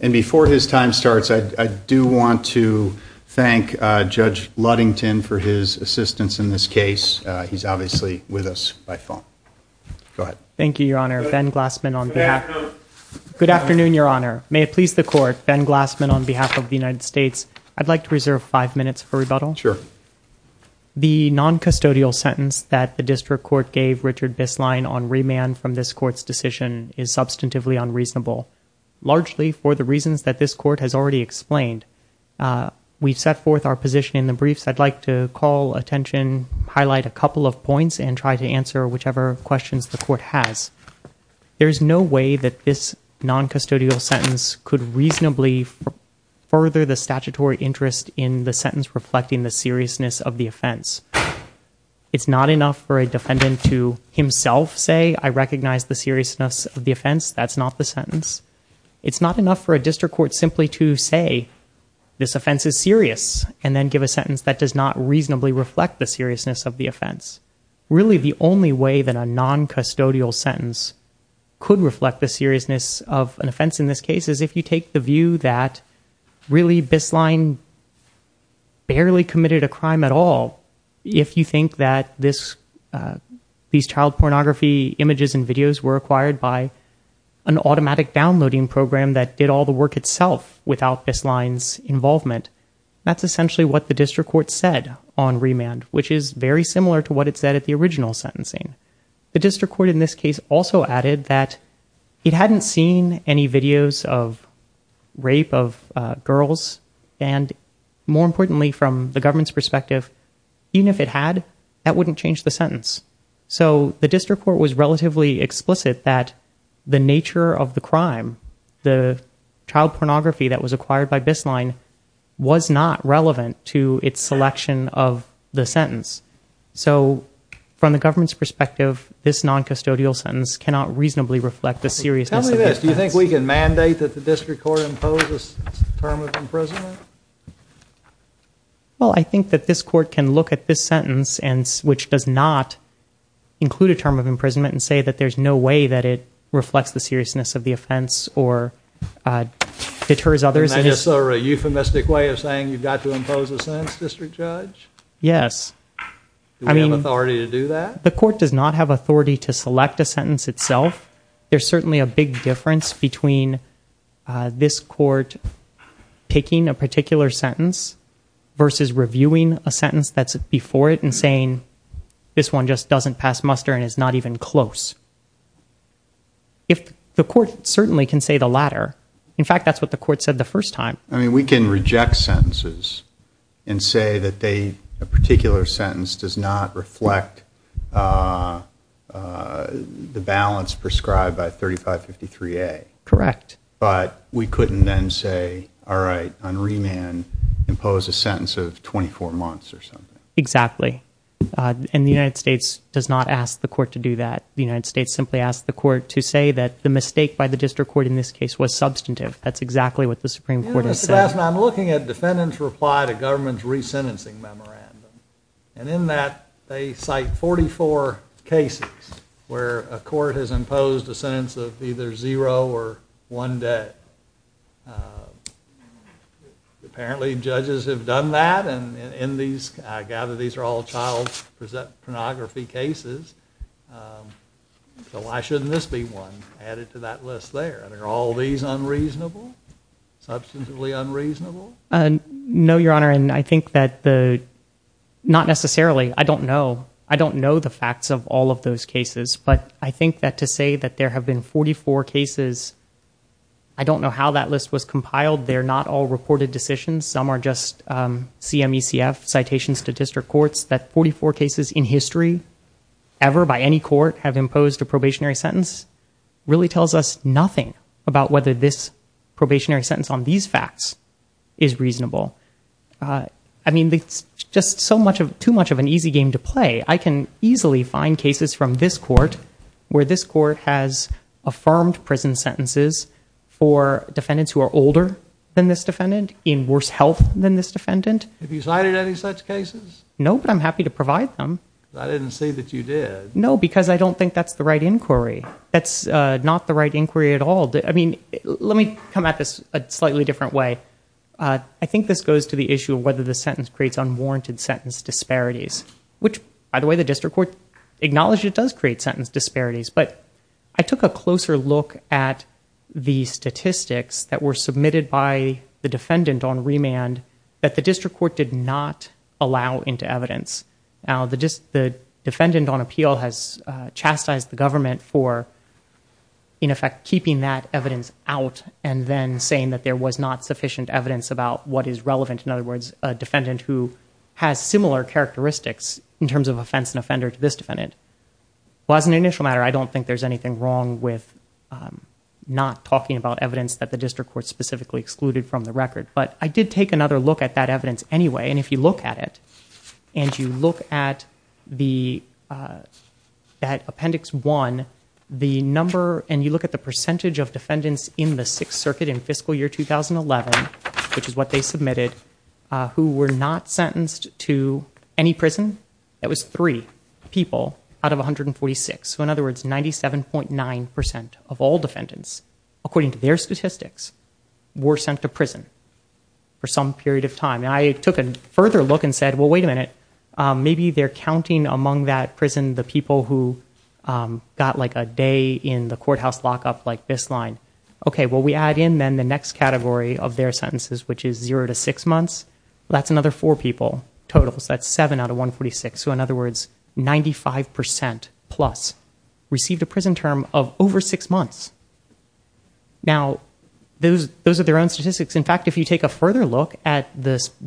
and before his time starts, I do want to thank Judge Ludington for his assistance in this case. He's obviously with us by phone. Go ahead. Thank you, Your Honor. Ben Glassman on behalf of the United States. I'd like to reserve five minutes for rebuttal. The non-custodial sentence that the district court gave Richard Bistline on remand from this court's decision is substantively unreasonable, largely for the reasons that this court has already explained. We've set forth our position in the briefs. I'd like to call attention, highlight a couple of points and try to answer whichever questions the court has. There is no way that this non-custodial sentence could reasonably further the statutory interest in the sentence reflecting the seriousness of the offense. It's not enough for a defendant to himself say, I recognize the seriousness of the offense. That's not the sentence. It's not enough for a district court simply to say this offense is serious and then give a sentence that does not reasonably reflect the seriousness of the offense. Really, the only way that a non-custodial sentence could reflect the seriousness of an offense in this case is if you take the view that really Bistline barely committed a crime at all. If you think that these child pornography images and videos were acquired by an automatic downloading program that did all the work itself without Bistline's involvement, that's essentially what the district court said on remand, which is very similar to what it said at the original sentencing. The district court in this case also added that it hadn't seen any videos of rape of girls and more importantly from the government's perspective, even if it had, that wouldn't change the sentence. So the district court was relatively explicit that the nature of the crime, the child pornography that was acquired by Bistline was not relevant to its selection of the sentence. So from the government's perspective, this non-custodial sentence cannot reasonably reflect the seriousness of the offense. Tell me this, do you think we can mandate that the district court impose a term of imprisonment? Well, I think that this court can look at this sentence, which does not include a term of imprisonment and say that there's no way that it reflects the sentence. Is that just sort of a euphemistic way of saying you've got to impose a sentence, District Judge? Yes. Do we have authority to do that? The court does not have authority to select a sentence itself. There's certainly a big difference between this court picking a particular sentence versus reviewing a sentence that's before it and saying this one just doesn't pass muster and is not even close. The court certainly can say the latter. In the first time. I mean, we can reject sentences and say that a particular sentence does not reflect the balance prescribed by 3553A. Correct. But we couldn't then say, all right, on remand, impose a sentence of 24 months or something. Exactly. And the United States does not ask the court to do that. The United States simply asked the court to say that the mistake by the Supreme Court has said. You know, Mr. Glassman, I'm looking at defendants' reply to government's re-sentencing memorandum. And in that, they cite 44 cases where a court has imposed a sentence of either zero or one debt. Apparently, judges have done that. And in these, I gather these are all child pornography cases. So why shouldn't this be one added to that list there? Are all these unreasonable? Substantively unreasonable? No, Your Honor. And I think that the, not necessarily, I don't know. I don't know the facts of all of those cases. But I think that to say that there have been 44 cases, I don't know how that list was compiled. They're not all reported decisions. Some are just CMECF citations to district courts that 44 cases in history ever by any court have imposed a probationary sentence really tells us nothing about whether this probationary sentence on these facts is reasonable. I mean, it's just so much of, too much of an easy game to play. I can easily find cases from this court where this court has affirmed prison sentences for defendants who are older than this defendant, in worse health than this defendant. Have you cited any such cases? No, but I'm happy to provide them. I didn't see that you did. No, because I don't think that's the right inquiry. That's not the right inquiry at all. I mean, let me come at this a slightly different way. I think this goes to the issue of whether the sentence creates unwarranted sentence disparities, which, by the way, the district court acknowledged it does create sentence disparities. But I took a closer look at the statistics that were submitted by the defendant on remand that the district court did not allow into evidence. Now, the government for, in effect, keeping that evidence out and then saying that there was not sufficient evidence about what is relevant. In other words, a defendant who has similar characteristics in terms of offense and offender to this defendant. Well, as an initial matter, I don't think there's anything wrong with not talking about evidence that the district court specifically excluded from the record. But I did take another look at that evidence anyway. And if you look at it, and you look at Appendix 1, the number, and you look at the percentage of defendants in the 6th Circuit in fiscal year 2011, which is what they submitted, who were not sentenced to any prison, that was three people out of 146. So in other words, 97.9% of all defendants, according to their statistics, were sent to prison for some period of time. And I took a further look and said, well, wait a minute. Maybe they're counting among that prison the people who got like a day in the courthouse lockup, like this line. Okay, well, we add in then the next category of their sentences, which is zero to six months. That's another four people total. So that's seven out of 146. So in other words, 95% plus received a prison term of over six months. Now, those are their own statistics. In fact, if you look at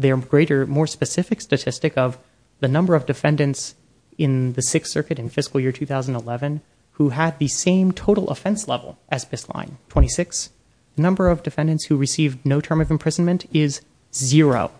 your more specific statistic of the number of defendants in the 6th Circuit in fiscal year 2011, who had the same total offense level as Bisline, 26, the number of defendants who received no term of imprisonment is zero,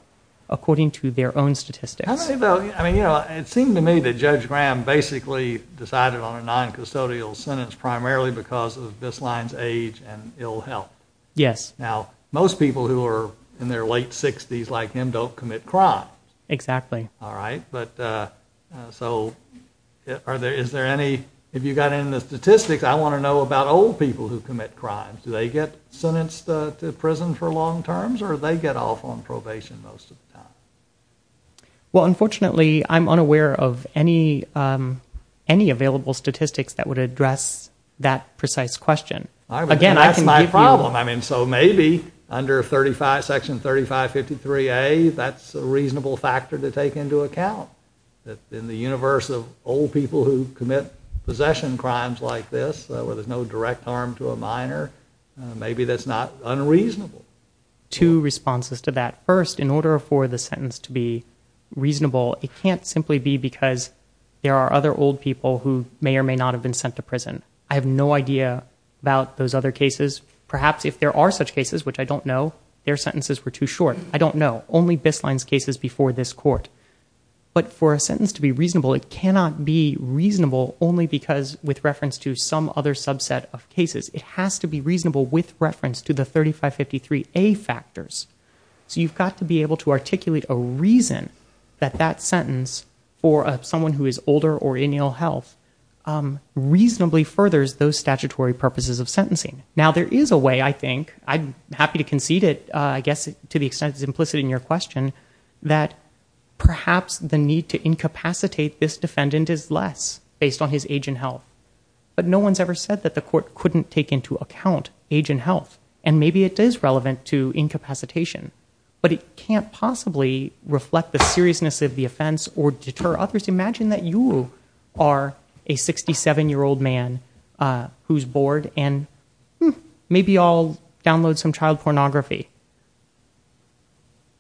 according to their own statistics. How many of those, I mean, you know, it seemed to me that Judge Graham basically decided on a noncustodial sentence primarily because of Bisline's age and ill health. Yes. Now, most people who are in their late 60s like him don't commit crimes. Exactly. All right. But so, is there any, if you got in the statistics, I want to know about old people who commit crimes. Do they get sentenced to prison for long terms or do they get off on probation most of the time? Well unfortunately, I'm unaware of any available statistics that would address that precise question. Again, that's my problem. I mean, so maybe under Section 3553A, that's a reasonable factor to take into account. That in the universe of old people who commit possession crimes like this, where there's no direct harm to a minor, maybe that's not unreasonable. Two responses to that. First, in order for the sentence to be reasonable, it can't simply be because there are other old people who may or may not have been sent to prison. I have no idea about those other cases. Perhaps if there are such cases, which I don't know, their sentences were too short. I don't know. Only Bisline's cases before this court. But for a sentence to be reasonable, it cannot be reasonable only because with reference to some other subset of cases. It has to be reasonable with reference to the 3553A factors. So you've got to be able to articulate a reason that that sentence for someone who is older or in ill health reasonably furthers those statutory purposes of sentencing. Now there is a way, I think, I'm happy to concede it, I guess to the extent it's implicit in your question, that perhaps the need to incapacitate this defendant is less based on his age and health. But no one's ever said that the court couldn't take into account age and health. And maybe it is relevant to incapacitation. But it can't possibly reflect the seriousness of the offense or deter others. Imagine that you are a 67-year-old man who's bored and maybe I'll download some child pornography.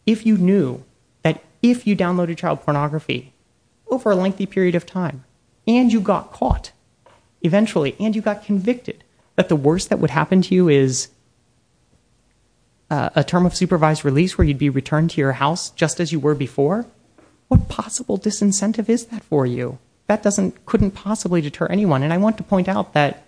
If you knew that if you downloaded child pornography over a lengthy period of time, and you got caught eventually, and you got convicted, that the worst that would happen to you is a term of supervised release where you'd be sentenced for, what possible disincentive is that for you? That couldn't possibly deter anyone. And I want to point out that,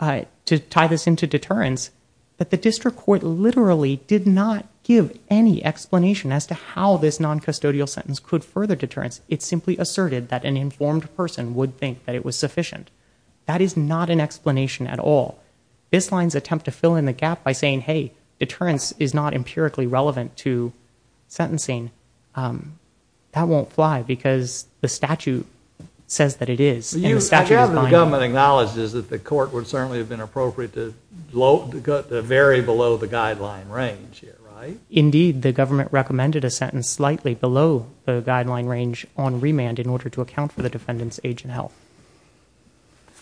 to tie this into deterrence, that the district court literally did not give any explanation as to how this noncustodial sentence could further deterrence. It simply asserted that an informed person would think that it was sufficient. That is not an explanation at all. This line's attempt to fill in the gap by saying, hey, deterrence is not empirically relevant to sentencing, that won't fly because the statute says that it is. And the statute is fine. You have the government acknowledges that the court would certainly have been appropriate to vary below the guideline range here, right? Indeed, the government recommended a sentence slightly below the guideline range on remand in order to account for the defendant's age and health.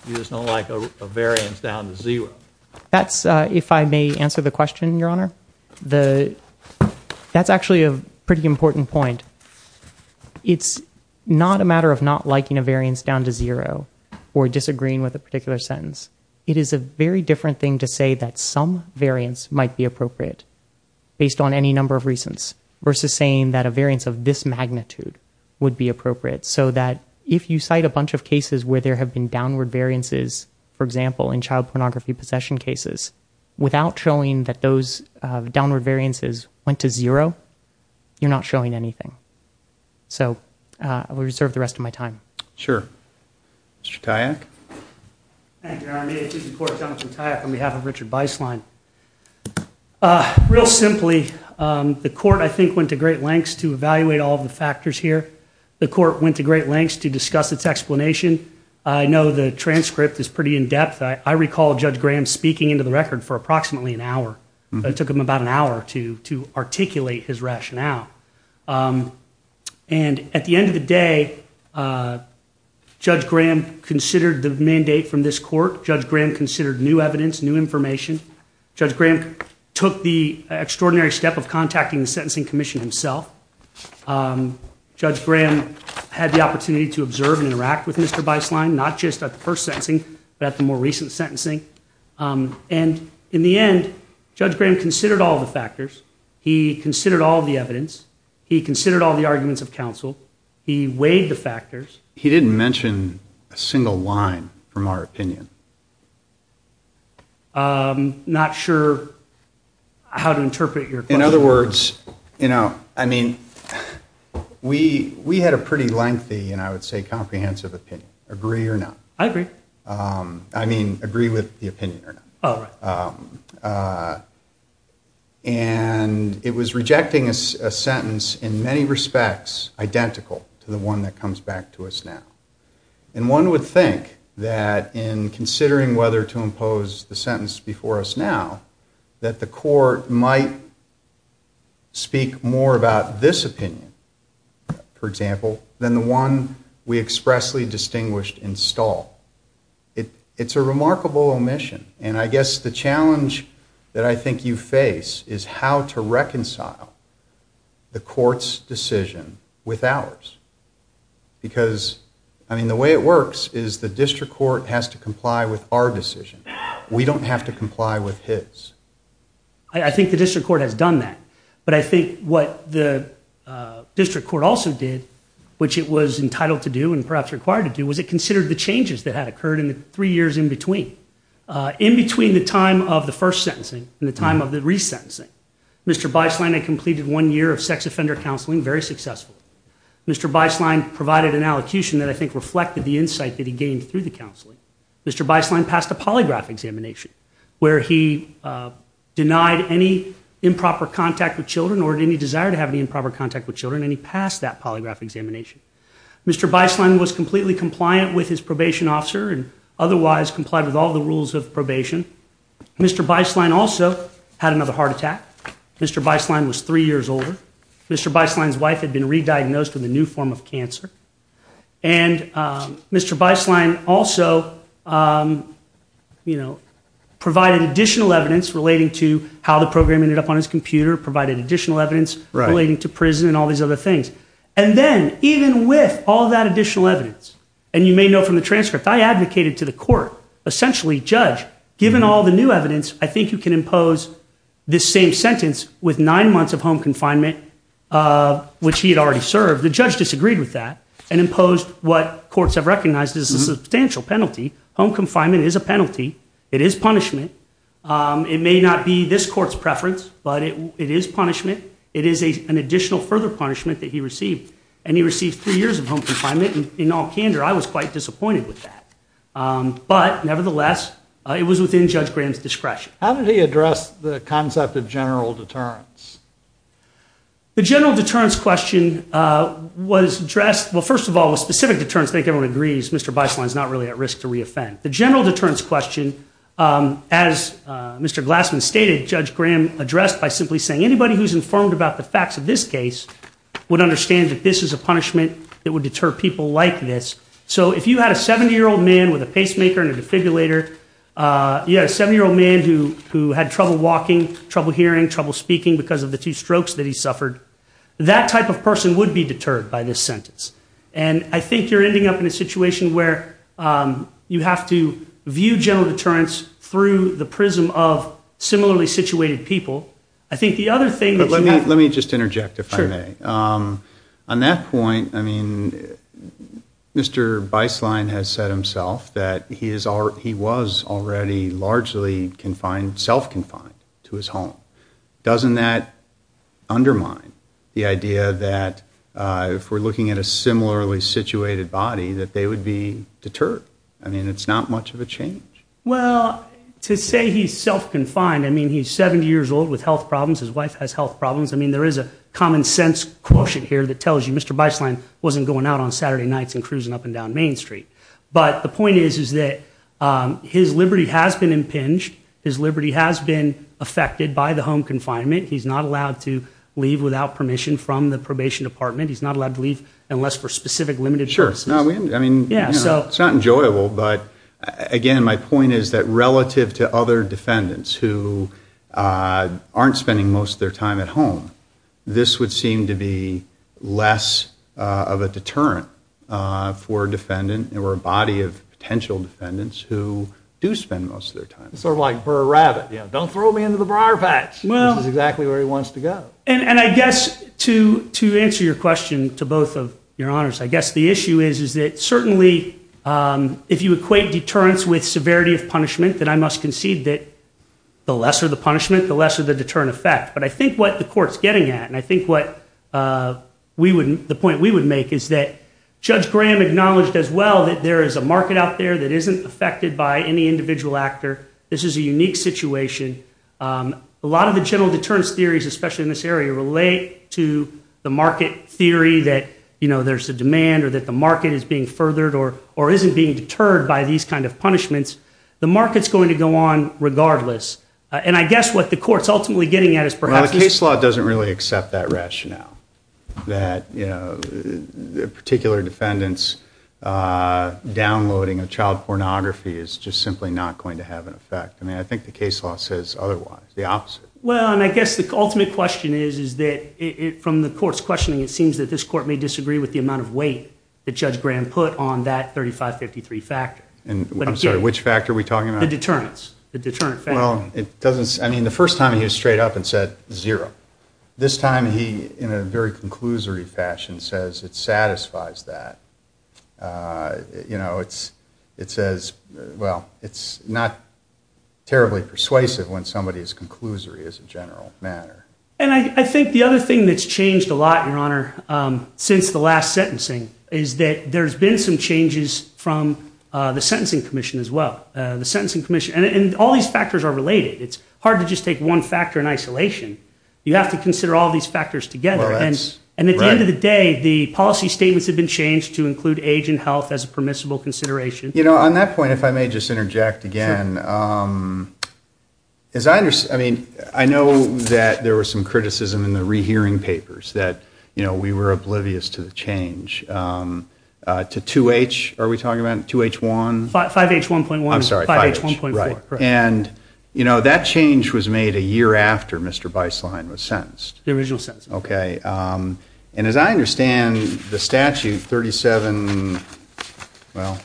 You just don't like a variance down to zero. That's, if I may answer the question, Your Honor, that's actually a pretty important point. It's not a matter of not liking a variance down to zero or disagreeing with a particular sentence. It is a very different thing to say that some variance might be appropriate based on any number of reasons versus saying that a variance of this magnitude would be appropriate so that if you cite a bunch of cases where there have been downward variances, for example, in child pornography possession cases, without showing that those downward variances went to zero, you're not showing anything. So I will reserve the rest of my time. Sure. Mr. Tyak? Thank you, Your Honor. May I please report to Mr. Tyak on behalf of Richard Beislein? Real simply, the court, I think, went to great lengths to evaluate all of the factors here. The court went to great lengths to discuss its explanation. I know the transcript is pretty in-depth. I recall Judge Graham speaking into the record for approximately an hour. It took him about an hour to articulate his rationale. And at the end of the day, Judge Graham considered the mandate from this court. Judge Graham considered new evidence, new information. Judge Graham took the extraordinary step of contacting the Sentencing Commission himself. Judge Graham had the opportunity to observe and interact with Mr. Beislein, not just at the first sentencing, but at the more recent sentencing. And in the end, Judge Graham considered all the factors. He considered all the evidence. He considered all the arguments of counsel. He weighed the factors. He didn't mention a single line from our opinion. I'm not sure how to interpret your question. In other words, you know, I mean, we had a pretty lengthy and I would say comprehensive opinion. Agree or not? I agree. I mean, agree with the opinion or not. Oh, right. And it was rejecting a sentence in many respects identical to the one that comes back to us now. And one would think that in considering whether to impose the sentence before us now, that the court might speak more about this opinion, for example, than the one we expressly distinguished in Stahl. It's a remarkable omission. And I guess the challenge that I think you face is how to reconcile the court's decision with ours. Because, I mean, the way it works is the district court has to comply with our decision. We don't have to comply with his. I think the district court has done that. But I think what the district court also did, which it was entitled to do and perhaps required to do, was it considered the changes that had occurred in the three years in between. In between the time of the first sentencing and the time of the resentencing, Mr. Beislein had completed one year of sex offender counseling very successfully. Mr. Beislein provided an allocution that I think reflected the insight that he gained through the counseling. Mr. Beislein passed a polygraph examination where he denied any improper contact with children or any desire to have any improper contact with children, and he passed that polygraph examination. Mr. Beislein was completely compliant with his probation officer and otherwise complied with all the rules of probation. Mr. Beislein also had another heart attack. Mr. Beislein was three years older. Mr. Beislein's wife had been re-diagnosed with a new form of cancer. And Mr. Beislein also provided additional evidence relating to how the program ended up on his computer, provided additional evidence relating to prison and all these other things. And then, even with all that additional evidence, and you may know from the transcript, I advocated to the court, essentially judge, given all the new evidence, I think you can impose this same sentence with nine months of home confinement, which he had already served. The judge disagreed with that and imposed what courts have recognized as a substantial penalty. Home confinement is a penalty. It is punishment. It may not be this court's preference, but it is punishment. It is an additional further punishment that he received, and he received three years of home confinement. In all candor, I was quite disappointed with that. But, nevertheless, it was within Judge Graham's discretion. How did he address the concept of general deterrence? The general deterrence question was addressed, well, first of all, with specific deterrence. I think everyone agrees Mr. Beislein is not really at risk to re-offend. The general deterrence question, as Mr. Glassman stated, Judge Graham addressed by simply saying, anybody who is informed about the facts of this case would understand that this is a punishment that would deter people like this. So if you had a 70-year-old man with a pacemaker and a defibrillator, you had a 70-year-old man who had trouble walking, trouble hearing, trouble speaking because of the two strokes that he suffered, that type of person would be deterred by this sentence. And I think you're ending up in a situation where you have to view general deterrence through the prism of similarly situated people. Let me just interject, if I may. On that point, Mr. Beislein has said himself that he was already largely self-confined to his home. Doesn't that undermine the idea that if we're looking at a similarly situated body that they would be deterred? I mean, it's not much of a change. Well, to say he's self-confined, I mean, he's 70 years old with health problems. His wife has health problems. I mean, there is a common sense quotient here that tells you Mr. Beislein wasn't going out on Saturday nights and cruising up and down Main Street. But the point is, is that his liberty has been impinged. His liberty has been affected by the home confinement. He's not allowed to leave without permission from the probation department. He's not allowed to leave unless for specific limited purposes. It's not enjoyable, but, again, my point is that relative to other defendants who aren't spending most of their time at home, this would seem to be less of a deterrent for a defendant or a body of potential defendants who do spend most of their time. Sort of like Burr Rabbit. Don't throw me into the briar patch. This is exactly where he wants to go. And I guess to answer your question to both of your honors, I guess the issue is that certainly if you equate deterrence with severity of punishment, then I must concede that the lesser the punishment, the lesser the deterrent effect. But I think what the court's getting at, and I think what the point we would make, is that Judge Graham acknowledged as well that there is a market out there that isn't affected by any individual actor. This is a unique situation. A lot of the general deterrence theories, especially in this area, relate to the market theory that there's a demand or that the market is being furthered or isn't being deterred by these kind of punishments. The market's going to go on regardless. And I guess what the court's ultimately getting at is perhaps... Well, the case law doesn't really accept that rationale. That a particular defendant's downloading of child pornography is just simply not going to have an effect. I mean, I think the case law says otherwise, the opposite. Well, and I guess the ultimate question is that from the court's questioning, it seems that this court may disagree with the amount of weight that Judge Graham put on that 3553 factor. I'm sorry, which factor are we talking about? The deterrence, the deterrent factor. Well, it doesn't... I mean, the first time he was straight up and said zero. This time he, in a very conclusory fashion, says it satisfies that. You know, it says, well, it's not terribly persuasive when somebody's conclusory is a general matter. And I think the other thing that's changed a lot, Your Honor, since the last sentencing is that there's been some changes from the Sentencing Commission as well. The Sentencing Commission, and all these factors are related. It's hard to just take one factor in isolation. You have to consider all these factors together. And at the end of the day, the policy statements have been changed to include age and health as a permissible consideration. You know, on that point, if I may just interject again, as I understand, I mean, I know that there was some criticism in the rehearing papers that, you know, we were oblivious to the change. To 2H, are we talking about? 2H1? 5H1.1. I'm sorry, 5H1.4. And, you know, that change was made a year after Mr. Beislein was sentenced. The original sentence. Okay. And as I understand the statute, 37, well,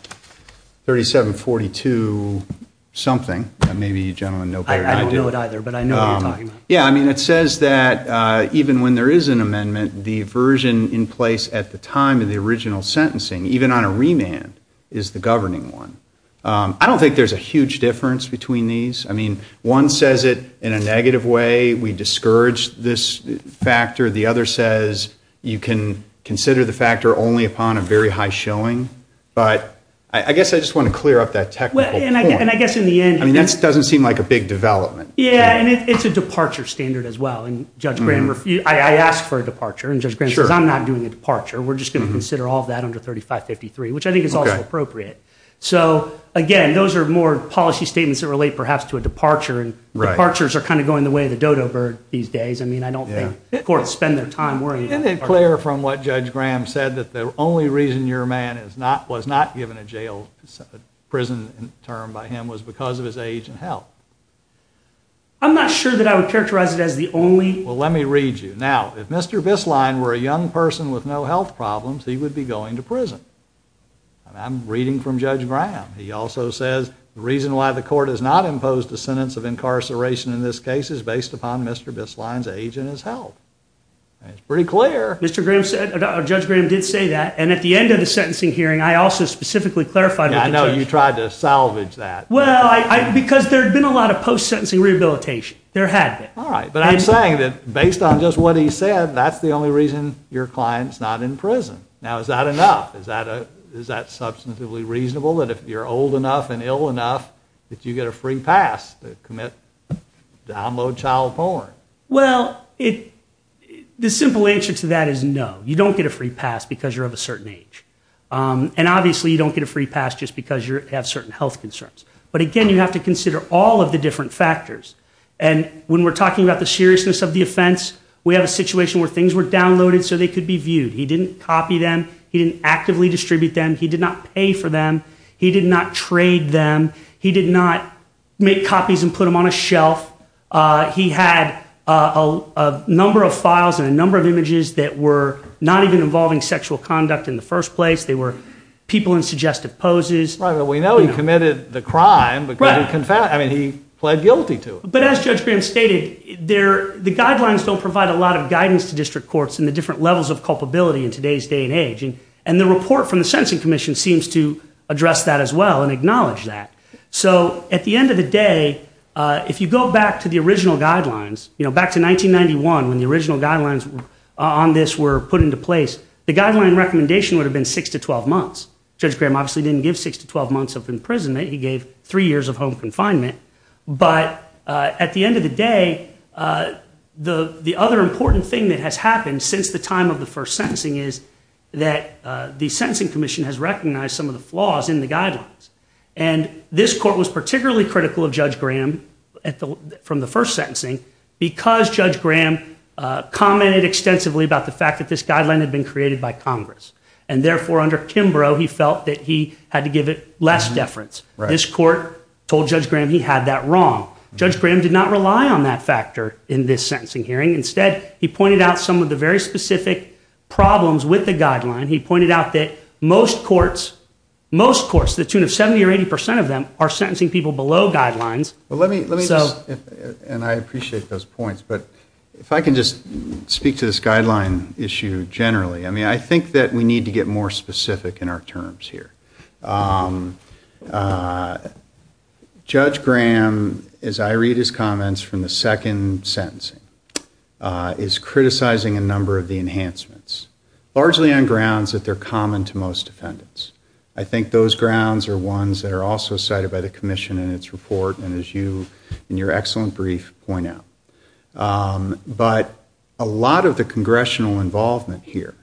3742-something. Maybe you gentlemen know better than I do. I don't know it either, but I know what you're talking about. Yeah, I mean, it says that even when there is an amendment, the version in place at the time of the original sentencing, even on a remand, is the governing one. I don't think there's a huge difference between these. I mean, one says it in a negative way. We discourage this factor. The other says you can consider the factor only upon a very high showing. But I guess I just want to clear up that technical point. And I guess in the end. I mean, that doesn't seem like a big development. Yeah, and it's a departure standard as well. And Judge Graham, I asked for a departure, and Judge Graham says I'm not doing a departure. We're just going to consider all of that under 3553, which I think is also appropriate. So, again, those are more policy statements that relate perhaps to a departure, and departures are kind of going the way of the dodo bird these days. I mean, I don't think courts spend their time worrying about that. Isn't it clear from what Judge Graham said that the only reason your man was not given a prison term by him was because of his age and health? I'm not sure that I would characterize it as the only. Well, let me read you. Now, if Mr. Bisline were a young person with no health problems, he would be going to prison. I'm reading from Judge Graham. He also says the reason why the court has not imposed a sentence of incarceration in this case is based upon Mr. Bisline's age and his health. It's pretty clear. Judge Graham did say that, and at the end of the sentencing hearing, I also specifically clarified with the judge. Yeah, I know. You tried to salvage that. Well, because there had been a lot of post-sentencing rehabilitation. There had been. All right, but I'm saying that based on just what he said, that's the only reason your client's not in prison. Now, is that enough? Is that substantively reasonable that if you're old enough and ill enough that you get a free pass to download child porn? Well, the simple answer to that is no. You don't get a free pass because you're of a certain age. And obviously you don't get a free pass just because you have certain health concerns. But again, you have to consider all of the different factors. And when we're talking about the seriousness of the offense, we have a situation where things were downloaded so they could be viewed. He didn't copy them. He didn't actively distribute them. He did not pay for them. He did not trade them. He did not make copies and put them on a shelf. He had a number of files and a number of images that were not even involving sexual conduct in the first place. They were people in suggestive poses. Right, but we know he committed the crime because he pled guilty to it. But as Judge Graham stated, the guidelines don't provide a lot of guidance to district courts in the different levels of culpability in today's day and age. And the report from the Sentencing Commission seems to address that as well and acknowledge that. So at the end of the day, if you go back to the original guidelines, back to 1991 when the original guidelines on this were put into place, the guideline recommendation would have been six to 12 months. Judge Graham obviously didn't give six to 12 months of imprisonment. He gave three years of home confinement. But at the end of the day, the other important thing that has happened since the time of the first sentencing is that the Sentencing Commission has recognized some of the flaws in the guidelines. And this court was particularly critical of Judge Graham from the first sentencing because Judge Graham commented extensively about the fact that this guideline had been created by Congress. And therefore, under Kimbrough, he felt that he had to give it less deference. This court told Judge Graham he had that wrong. Judge Graham did not rely on that factor in this sentencing hearing. Instead, he pointed out some of the very specific problems with the guideline. He pointed out that most courts, the tune of 70 or 80 percent of them, are sentencing people below guidelines. And I appreciate those points, but if I can just speak to this guideline issue generally. I mean, I think that we need to get more specific in our terms here. Judge Graham, as I read his comments from the second sentencing, is criticizing a number of the enhancements, largely on grounds that they're common to most defendants. I think those grounds are ones that are also cited by the commission in its report, and as you, in your excellent brief, point out. But a lot of the congressional involvement here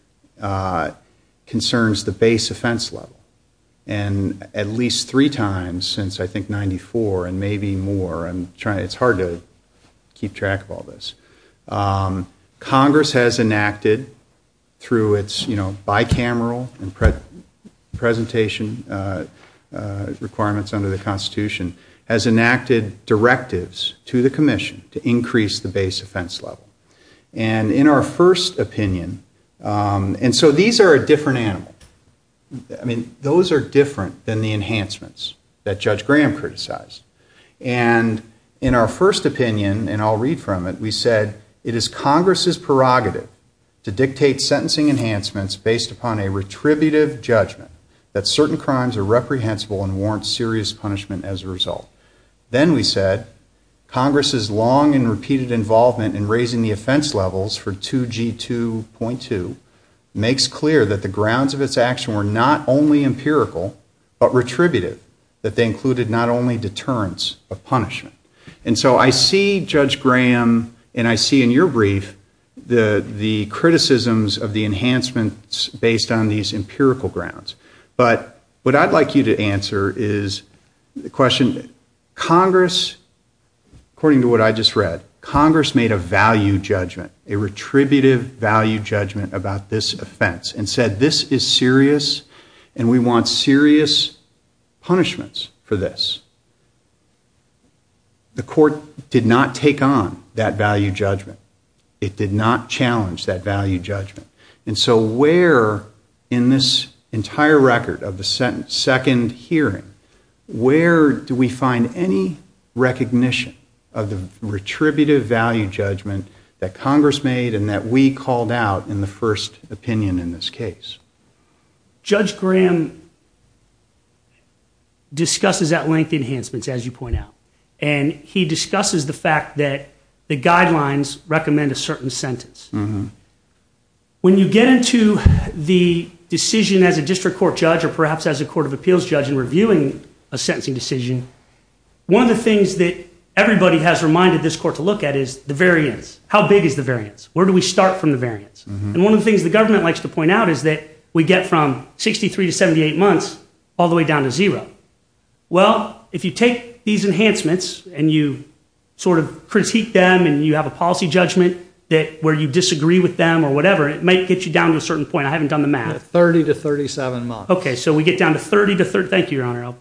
concerns the base offense level, and at least three times since, I think, 94, and maybe more. It's hard to keep track of all this. Congress has enacted, through its bicameral and presentation requirements under the Constitution, has enacted directives to the commission to increase the base offense level. And in our first opinion, and so these are a different animal. I mean, those are different than the enhancements that Judge Graham criticized. And in our first opinion, and I'll read from it, we said, it is Congress's prerogative to dictate sentencing enhancements based upon a retributive judgment that certain crimes are reprehensible and warrant serious punishment as a result. Then we said, Congress's long and repeated involvement in raising the offense levels for 2G2.2 makes clear that the grounds of its action were not only empirical, but retributive, that they included not only deterrence, but punishment. And so I see Judge Graham, and I see in your brief, the criticisms of the enhancements based on these empirical grounds. But what I'd like you to answer is the question, Congress, according to what I just read, Congress made a value judgment, a retributive value judgment about this offense, and said this is serious, and we want serious punishments for this. The court did not take on that value judgment. It did not challenge that value judgment. And so where in this entire record of the second hearing, where do we find any recognition of the retributive value judgment that Congress made and that we called out in the first opinion in this case? Judge Graham discusses at length enhancements, as you point out. And he discusses the fact that the guidelines recommend a certain sentence. When you get into the decision as a district court judge or perhaps as a court of appeals judge in reviewing a sentencing decision, one of the things that everybody has reminded this court to look at is the variance. How big is the variance? Where do we start from the variance? And one of the things the government likes to point out is that we get from 63 to 78 months all the way down to zero. Well, if you take these enhancements and you sort of critique them and you have a policy judgment where you disagree with them or whatever, it might get you down to a certain point. I haven't done the math. Thirty to 37 months. Okay, so we get down to 30 to 30. Thank you, Your Honor. I'll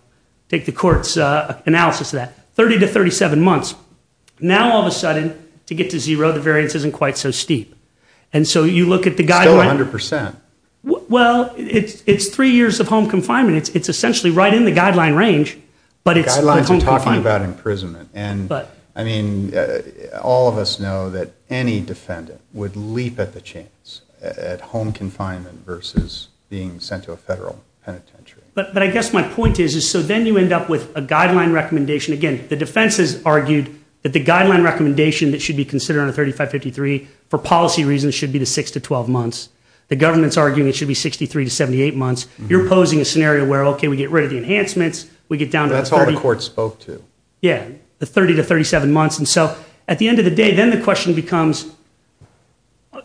take the court's analysis of that. Thirty to 37 months. Now all of a sudden, to get to zero, the variance isn't quite so steep. And so you look at the guideline. It's still 100 percent. Well, it's three years of home confinement. It's essentially right in the guideline range, but it's home confinement. Guidelines are talking about imprisonment. I mean, all of us know that any defendant would leap at the chance at home confinement versus being sent to a federal penitentiary. But I guess my point is, so then you end up with a guideline recommendation. Again, the defense has argued that the guideline recommendation that should be considered under 3553 for policy reasons should be the 6 to 12 months. The government's arguing it should be 63 to 78 months. You're posing a scenario where, okay, we get rid of the enhancements. That's all the court spoke to. Yeah, the 30 to 37 months. And so at the end of the day, then the question becomes,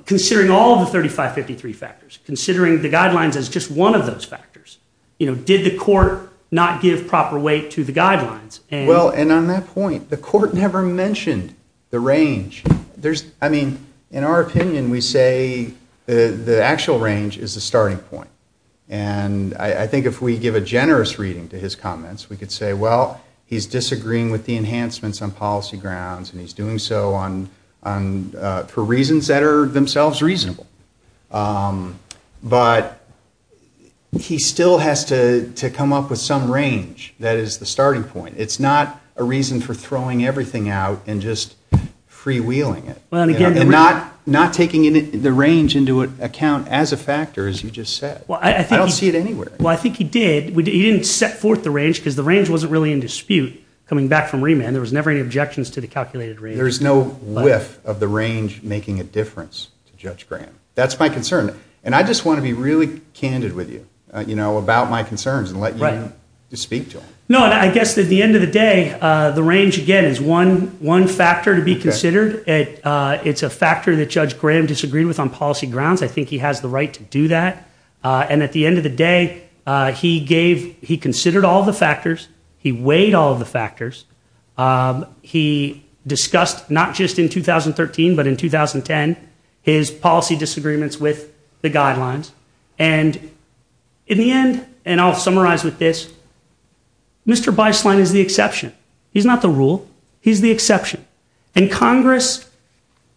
considering all of the 3553 factors, considering the guidelines as just one of those factors, did the court not give proper weight to the guidelines? Well, and on that point, the court never mentioned the range. I mean, in our opinion, we say the actual range is the starting point. And I think if we give a generous reading to his comments, we could say, well, he's disagreeing with the enhancements on policy grounds, and he's doing so for reasons that are themselves reasonable. But he still has to come up with some range that is the starting point. It's not a reason for throwing everything out and just freewheeling it and not taking the range into account as a factor, as you just said. I don't see it anywhere. Well, I think he did. He didn't set forth the range because the range wasn't really in dispute coming back from remand. There was never any objections to the calculated range. There's no whiff of the range making a difference to Judge Graham. That's my concern. And I just want to be really candid with you about my concerns and let you speak to them. No, I guess at the end of the day, the range, again, is one factor to be considered. It's a factor that Judge Graham disagreed with on policy grounds. I think he has the right to do that. And at the end of the day, he considered all the factors. He weighed all of the factors. He discussed not just in 2013 but in 2010 his policy disagreements with the guidelines. And in the end, and I'll summarize with this, Mr. Beislein is the exception. He's not the rule. He's the exception. And Congress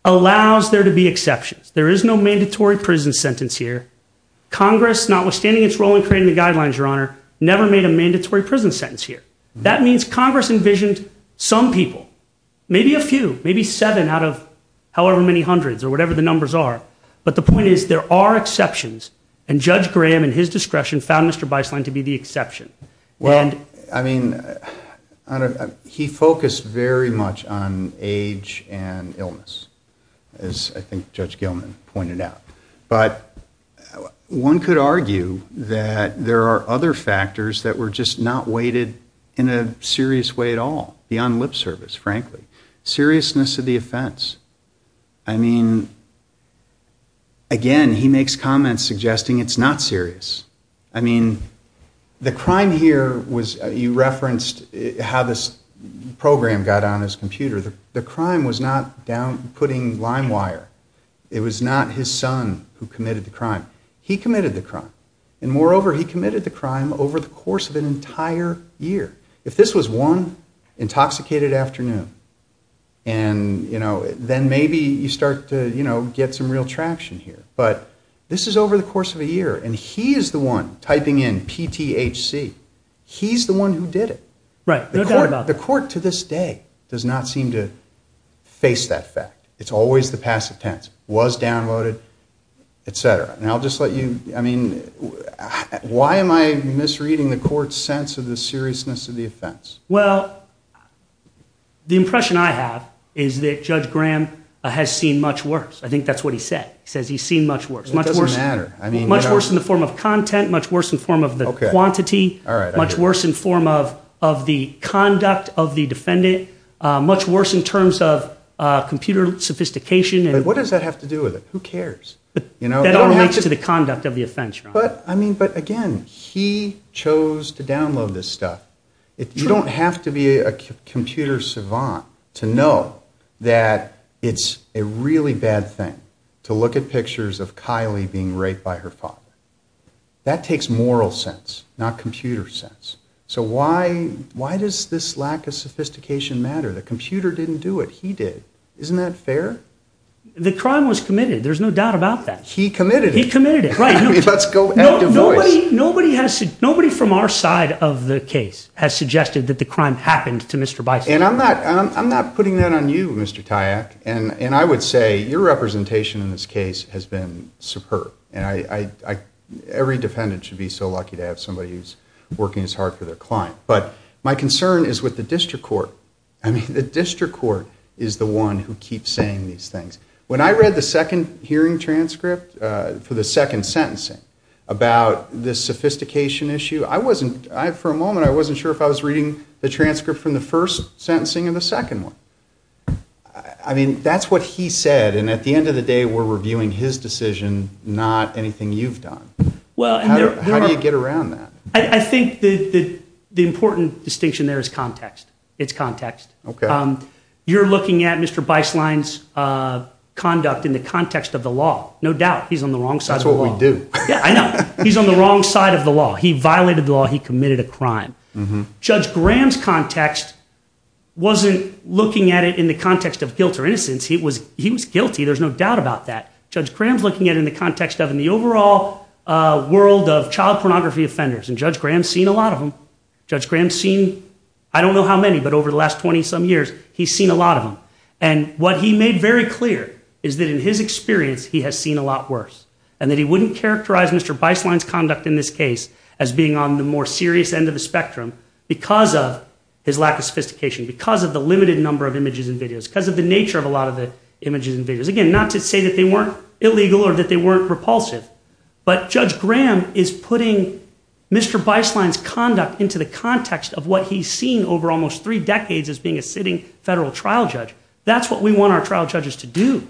allows there to be exceptions. There is no mandatory prison sentence here. Congress, notwithstanding its role in creating the guidelines, Your Honor, never made a mandatory prison sentence here. That means Congress envisioned some people, maybe a few, maybe seven out of however many hundreds or whatever the numbers are. But the point is there are exceptions, and Judge Graham in his discretion found Mr. Beislein to be the exception. Well, I mean, he focused very much on age and illness, as I think Judge Gilman pointed out. But one could argue that there are other factors that were just not weighted in a serious way at all, beyond lip service, frankly. Seriousness of the offense. I mean, again, he makes comments suggesting it's not serious. I mean, the crime here was you referenced how this program got on his computer. The crime was not down putting lime wire. It was not his son who committed the crime. He committed the crime. And moreover, he committed the crime over the course of an entire year. If this was one intoxicated afternoon, and, you know, then maybe you start to, you know, get some real traction here. But this is over the course of a year, and he is the one typing in PTHC. He's the one who did it. Right. No doubt about that. The court to this day does not seem to face that fact. It's always the passive tense. Was downloaded, et cetera. And I'll just let you, I mean, why am I misreading the court's sense of the seriousness of the offense? Well, the impression I have is that Judge Graham has seen much worse. I think that's what he said. He says he's seen much worse. It doesn't matter. Much worse in the form of content. Much worse in the form of the quantity. Much worse in the form of the conduct of the defendant. Much worse in terms of computer sophistication. But what does that have to do with it? Who cares? That all makes to the conduct of the offense. But, I mean, but again, he chose to download this stuff. You don't have to be a computer savant to know that it's a really bad thing to look at pictures of Kylie being raped by her father. That takes moral sense, not computer sense. So why does this lack of sophistication matter? The computer didn't do it. He did. Isn't that fair? The crime was committed. There's no doubt about that. He committed it. He committed it. Right. Let's go back to voice. Nobody from our side of the case has suggested that the crime happened to Mr. Bison. And I'm not putting that on you, Mr. Tyak. And I would say your representation in this case has been superb. And every defendant should be so lucky to have somebody who's working as hard for their client. But my concern is with the district court. I mean, the district court is the one who keeps saying these things. When I read the second hearing transcript for the second sentencing about this sophistication issue, for a moment I wasn't sure if I was reading the transcript from the first sentencing or the second one. I mean, that's what he said. And at the end of the day, we're reviewing his decision, not anything you've done. How do you get around that? I think the important distinction there is context. It's context. You're looking at Mr. Bison's conduct in the context of the law, no doubt. He's on the wrong side of the law. That's what we do. Yeah, I know. He's on the wrong side of the law. He violated the law. He committed a crime. Judge Graham's context wasn't looking at it in the context of guilt or innocence. He was guilty. There's no doubt about that. Judge Graham's looking at it in the context of the overall world of child pornography offenders. And Judge Graham's seen a lot of them. Judge Graham's seen I don't know how many, but over the last 20-some years he's seen a lot of them. And what he made very clear is that in his experience he has seen a lot worse and that he wouldn't characterize Mr. Bison's conduct in this case as being on the more serious end of the spectrum because of his lack of sophistication, because of the limited number of images and videos, because of the nature of a lot of the images and videos. Again, not to say that they weren't illegal or that they weren't repulsive, but Judge Graham is putting Mr. Bison's conduct into the context of what he's seen over almost three decades as being a sitting federal trial judge. That's what we want our trial judges to do.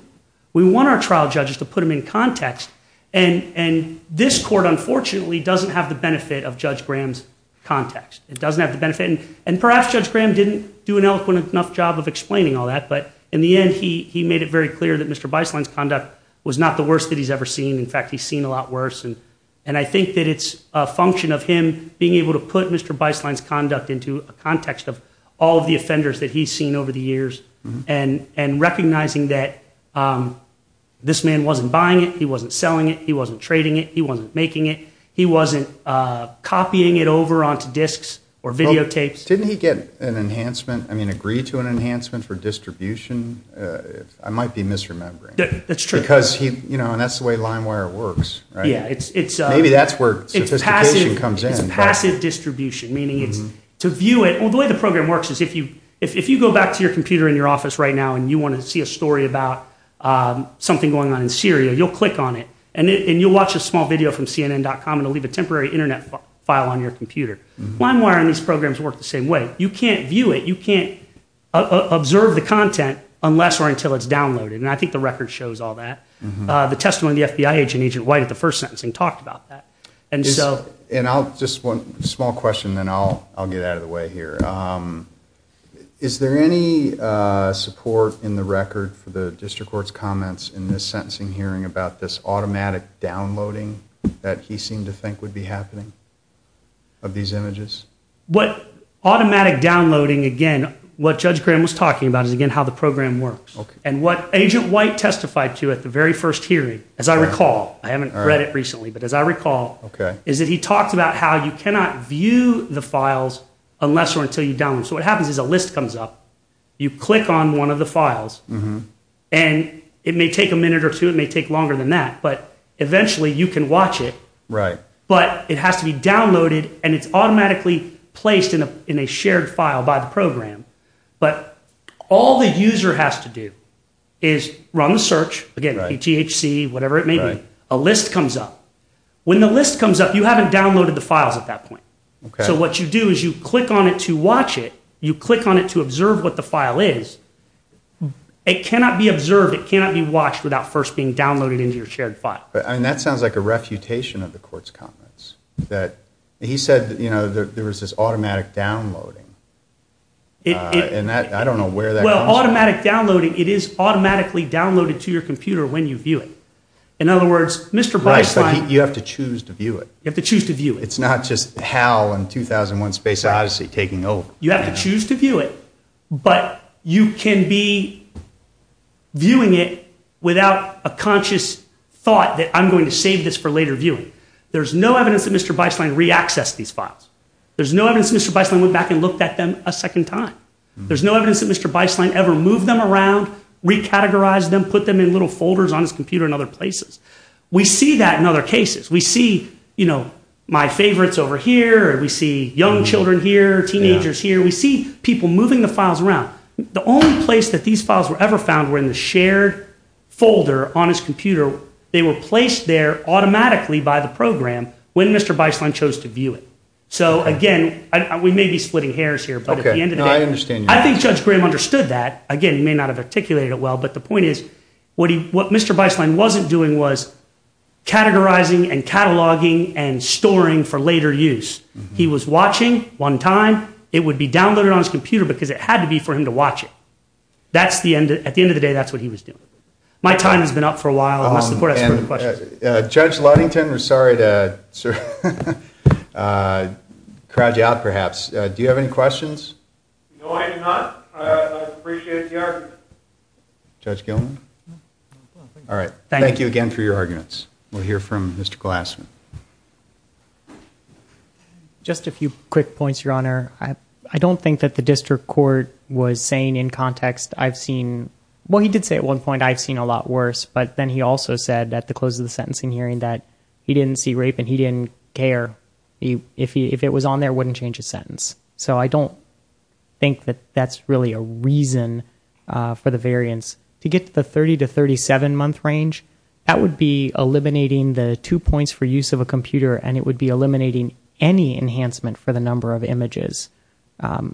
We want our trial judges to put them in context, and this court unfortunately doesn't have the benefit of Judge Graham's context. It doesn't have the benefit. And perhaps Judge Graham didn't do an eloquent enough job of explaining all that, but in the end he made it very clear that Mr. Bison's conduct was not the worst that he's ever seen. In fact, he's seen a lot worse, and I think that it's a function of him being able to put Mr. Bison's conduct into a context of all of the offenders that he's seen over the years and recognizing that this man wasn't buying it, he wasn't selling it, he wasn't trading it, he wasn't making it, he wasn't copying it over onto disks or videotapes. Didn't he get an enhancement, I mean agree to an enhancement for distribution? I might be misremembering. That's true. And that's the way LimeWire works. Maybe that's where sophistication comes in. It's passive distribution, meaning to view it, the way the program works is if you go back to your computer in your office right now and you want to see a story about something going on in Syria, you'll click on it, and you'll watch a small video from CNN.com and it'll leave a temporary internet file on your computer. LimeWire and these programs work the same way. You can't view it, you can't observe the content unless or until it's downloaded, and I think the record shows all that. The testimony of the FBI agent, Agent White, at the first sentencing talked about that. Just one small question and then I'll get out of the way here. Is there any support in the record for the district court's comments in this sentencing hearing about this automatic downloading that he seemed to think would be happening of these images? Automatic downloading, again, what Judge Graham was talking about is, again, how the program works and what Agent White testified to at the very first hearing, as I recall, I haven't read it recently, but as I recall, is that he talked about how you cannot view the files unless or until you download them. So what happens is a list comes up, you click on one of the files, and it may take a minute or two, it may take longer than that, but eventually you can watch it, but it has to be downloaded and it's automatically placed in a shared file by the program. But all the user has to do is run the search, again, PTHC, whatever it may be. A list comes up. When the list comes up, you haven't downloaded the files at that point. So what you do is you click on it to watch it, you click on it to observe what the file is. It cannot be observed, it cannot be watched without first being downloaded into your shared file. But, I mean, that sounds like a refutation of the court's comments, that he said, you know, there was this automatic downloading, and I don't know where that comes from. Well, automatic downloading, it is automatically downloaded to your computer when you view it. In other words, Mr. Breisland... Right, but you have to choose to view it. You have to choose to view it. It's not just HAL and 2001 Space Odyssey taking over. You have to choose to view it, but you can be viewing it without a conscious thought that I'm going to save this for later viewing. There's no evidence that Mr. Breisland reaccessed these files. There's no evidence that Mr. Breisland went back and looked at them a second time. There's no evidence that Mr. Breisland ever moved them around, recategorized them, put them in little folders on his computer in other places. We see that in other cases. We see, you know, my favorites over here. We see young children here, teenagers here. We see people moving the files around. The only place that these files were ever found were in the shared folder on his computer. They were placed there automatically by the program when Mr. Breisland chose to view it. So, again, we may be splitting hairs here, but at the end of the day... Okay, no, I understand you. I think Judge Graham understood that. Again, he may not have articulated it well, but the point is what Mr. Breisland wasn't doing was categorizing and cataloging and storing for later use. He was watching one time. It would be downloaded on his computer because it had to be for him to watch it. At the end of the day, that's what he was doing. My time has been up for a while, unless the court has further questions. Judge Ludington, we're sorry to crowd you out, perhaps. Do you have any questions? No, I do not. I appreciate the argument. Judge Gilman? All right. Thank you again for your arguments. We'll hear from Mr. Glassman. Just a few quick points, Your Honor. I don't think that the district court was saying in context, I've seen... Well, he did say at one point, I've seen a lot worse, but then he also said at the close of the sentencing hearing that he didn't see rape and he didn't care. If it was on there, it wouldn't change his sentence. So I don't think that that's really a reason for the variance. To get to the 30 to 37-month range, that would be eliminating the two points for use of a computer and it would be eliminating any enhancement for the number of images.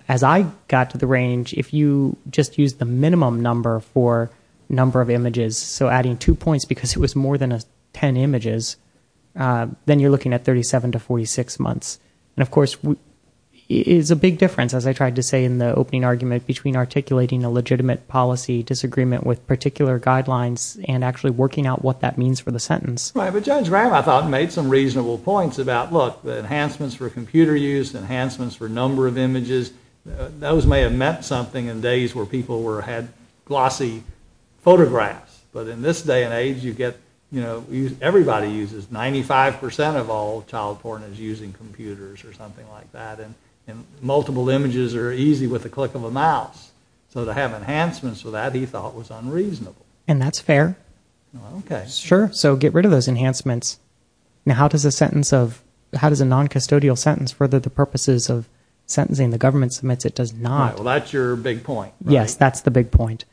As I got to the range, if you just use the minimum number for number of images, so adding two points because it was more than 10 images, then you're looking at 37 to 46 months. And, of course, it is a big difference, as I tried to say in the opening argument, between articulating a legitimate policy disagreement with particular guidelines and actually working out what that means for the sentence. But Judge Graham, I thought, made some reasonable points about, look, the enhancements for computer use, enhancements for number of images, those may have meant something in days where people had glossy photographs. But in this day and age, you get... And multiple images are easy with the click of a mouse. So to have enhancements for that, he thought, was unreasonable. And that's fair. Sure, so get rid of those enhancements. Now, how does a non-custodial sentence, for the purposes of sentencing the government submits, it does not... Right, well, that's your big point. Yes, that's the big point.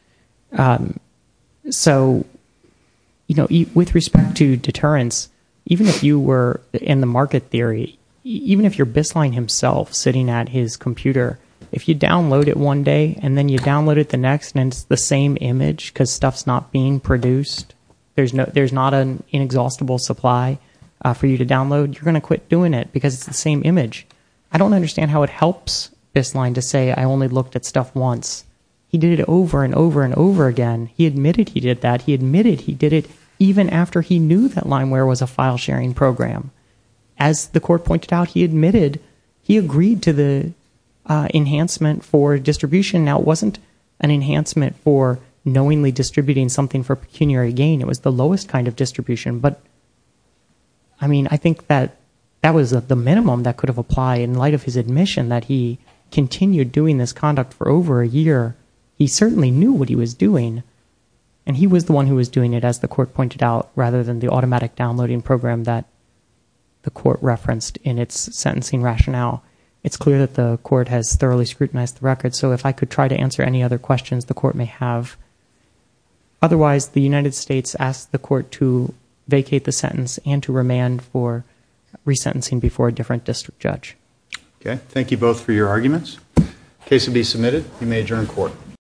So with respect to deterrence, even if you were in the market theory, even if you're Bisline himself sitting at his computer, if you download it one day and then you download it the next and it's the same image because stuff's not being produced, there's not an inexhaustible supply for you to download, you're going to quit doing it because it's the same image. I don't understand how it helps Bisline to say, I only looked at stuff once. He did it over and over and over again. He admitted he did that. He admitted he did it even after he knew that Limeware was a file-sharing program. As the court pointed out, he admitted he agreed to the enhancement for distribution. Now, it wasn't an enhancement for knowingly distributing something for pecuniary gain. It was the lowest kind of distribution. But, I mean, I think that that was the minimum that could have applied in light of his admission that he continued doing this conduct for over a year. He certainly knew what he was doing, and he was the one who was doing it, as the court pointed out, rather than the automatic downloading program that the court referenced in its sentencing rationale. It's clear that the court has thoroughly scrutinized the record, so if I could try to answer any other questions the court may have. Otherwise, the United States asks the court to vacate the sentence and to remand for resentencing before a different district judge. Okay. Thank you both for your arguments. The case will be submitted. You may adjourn court.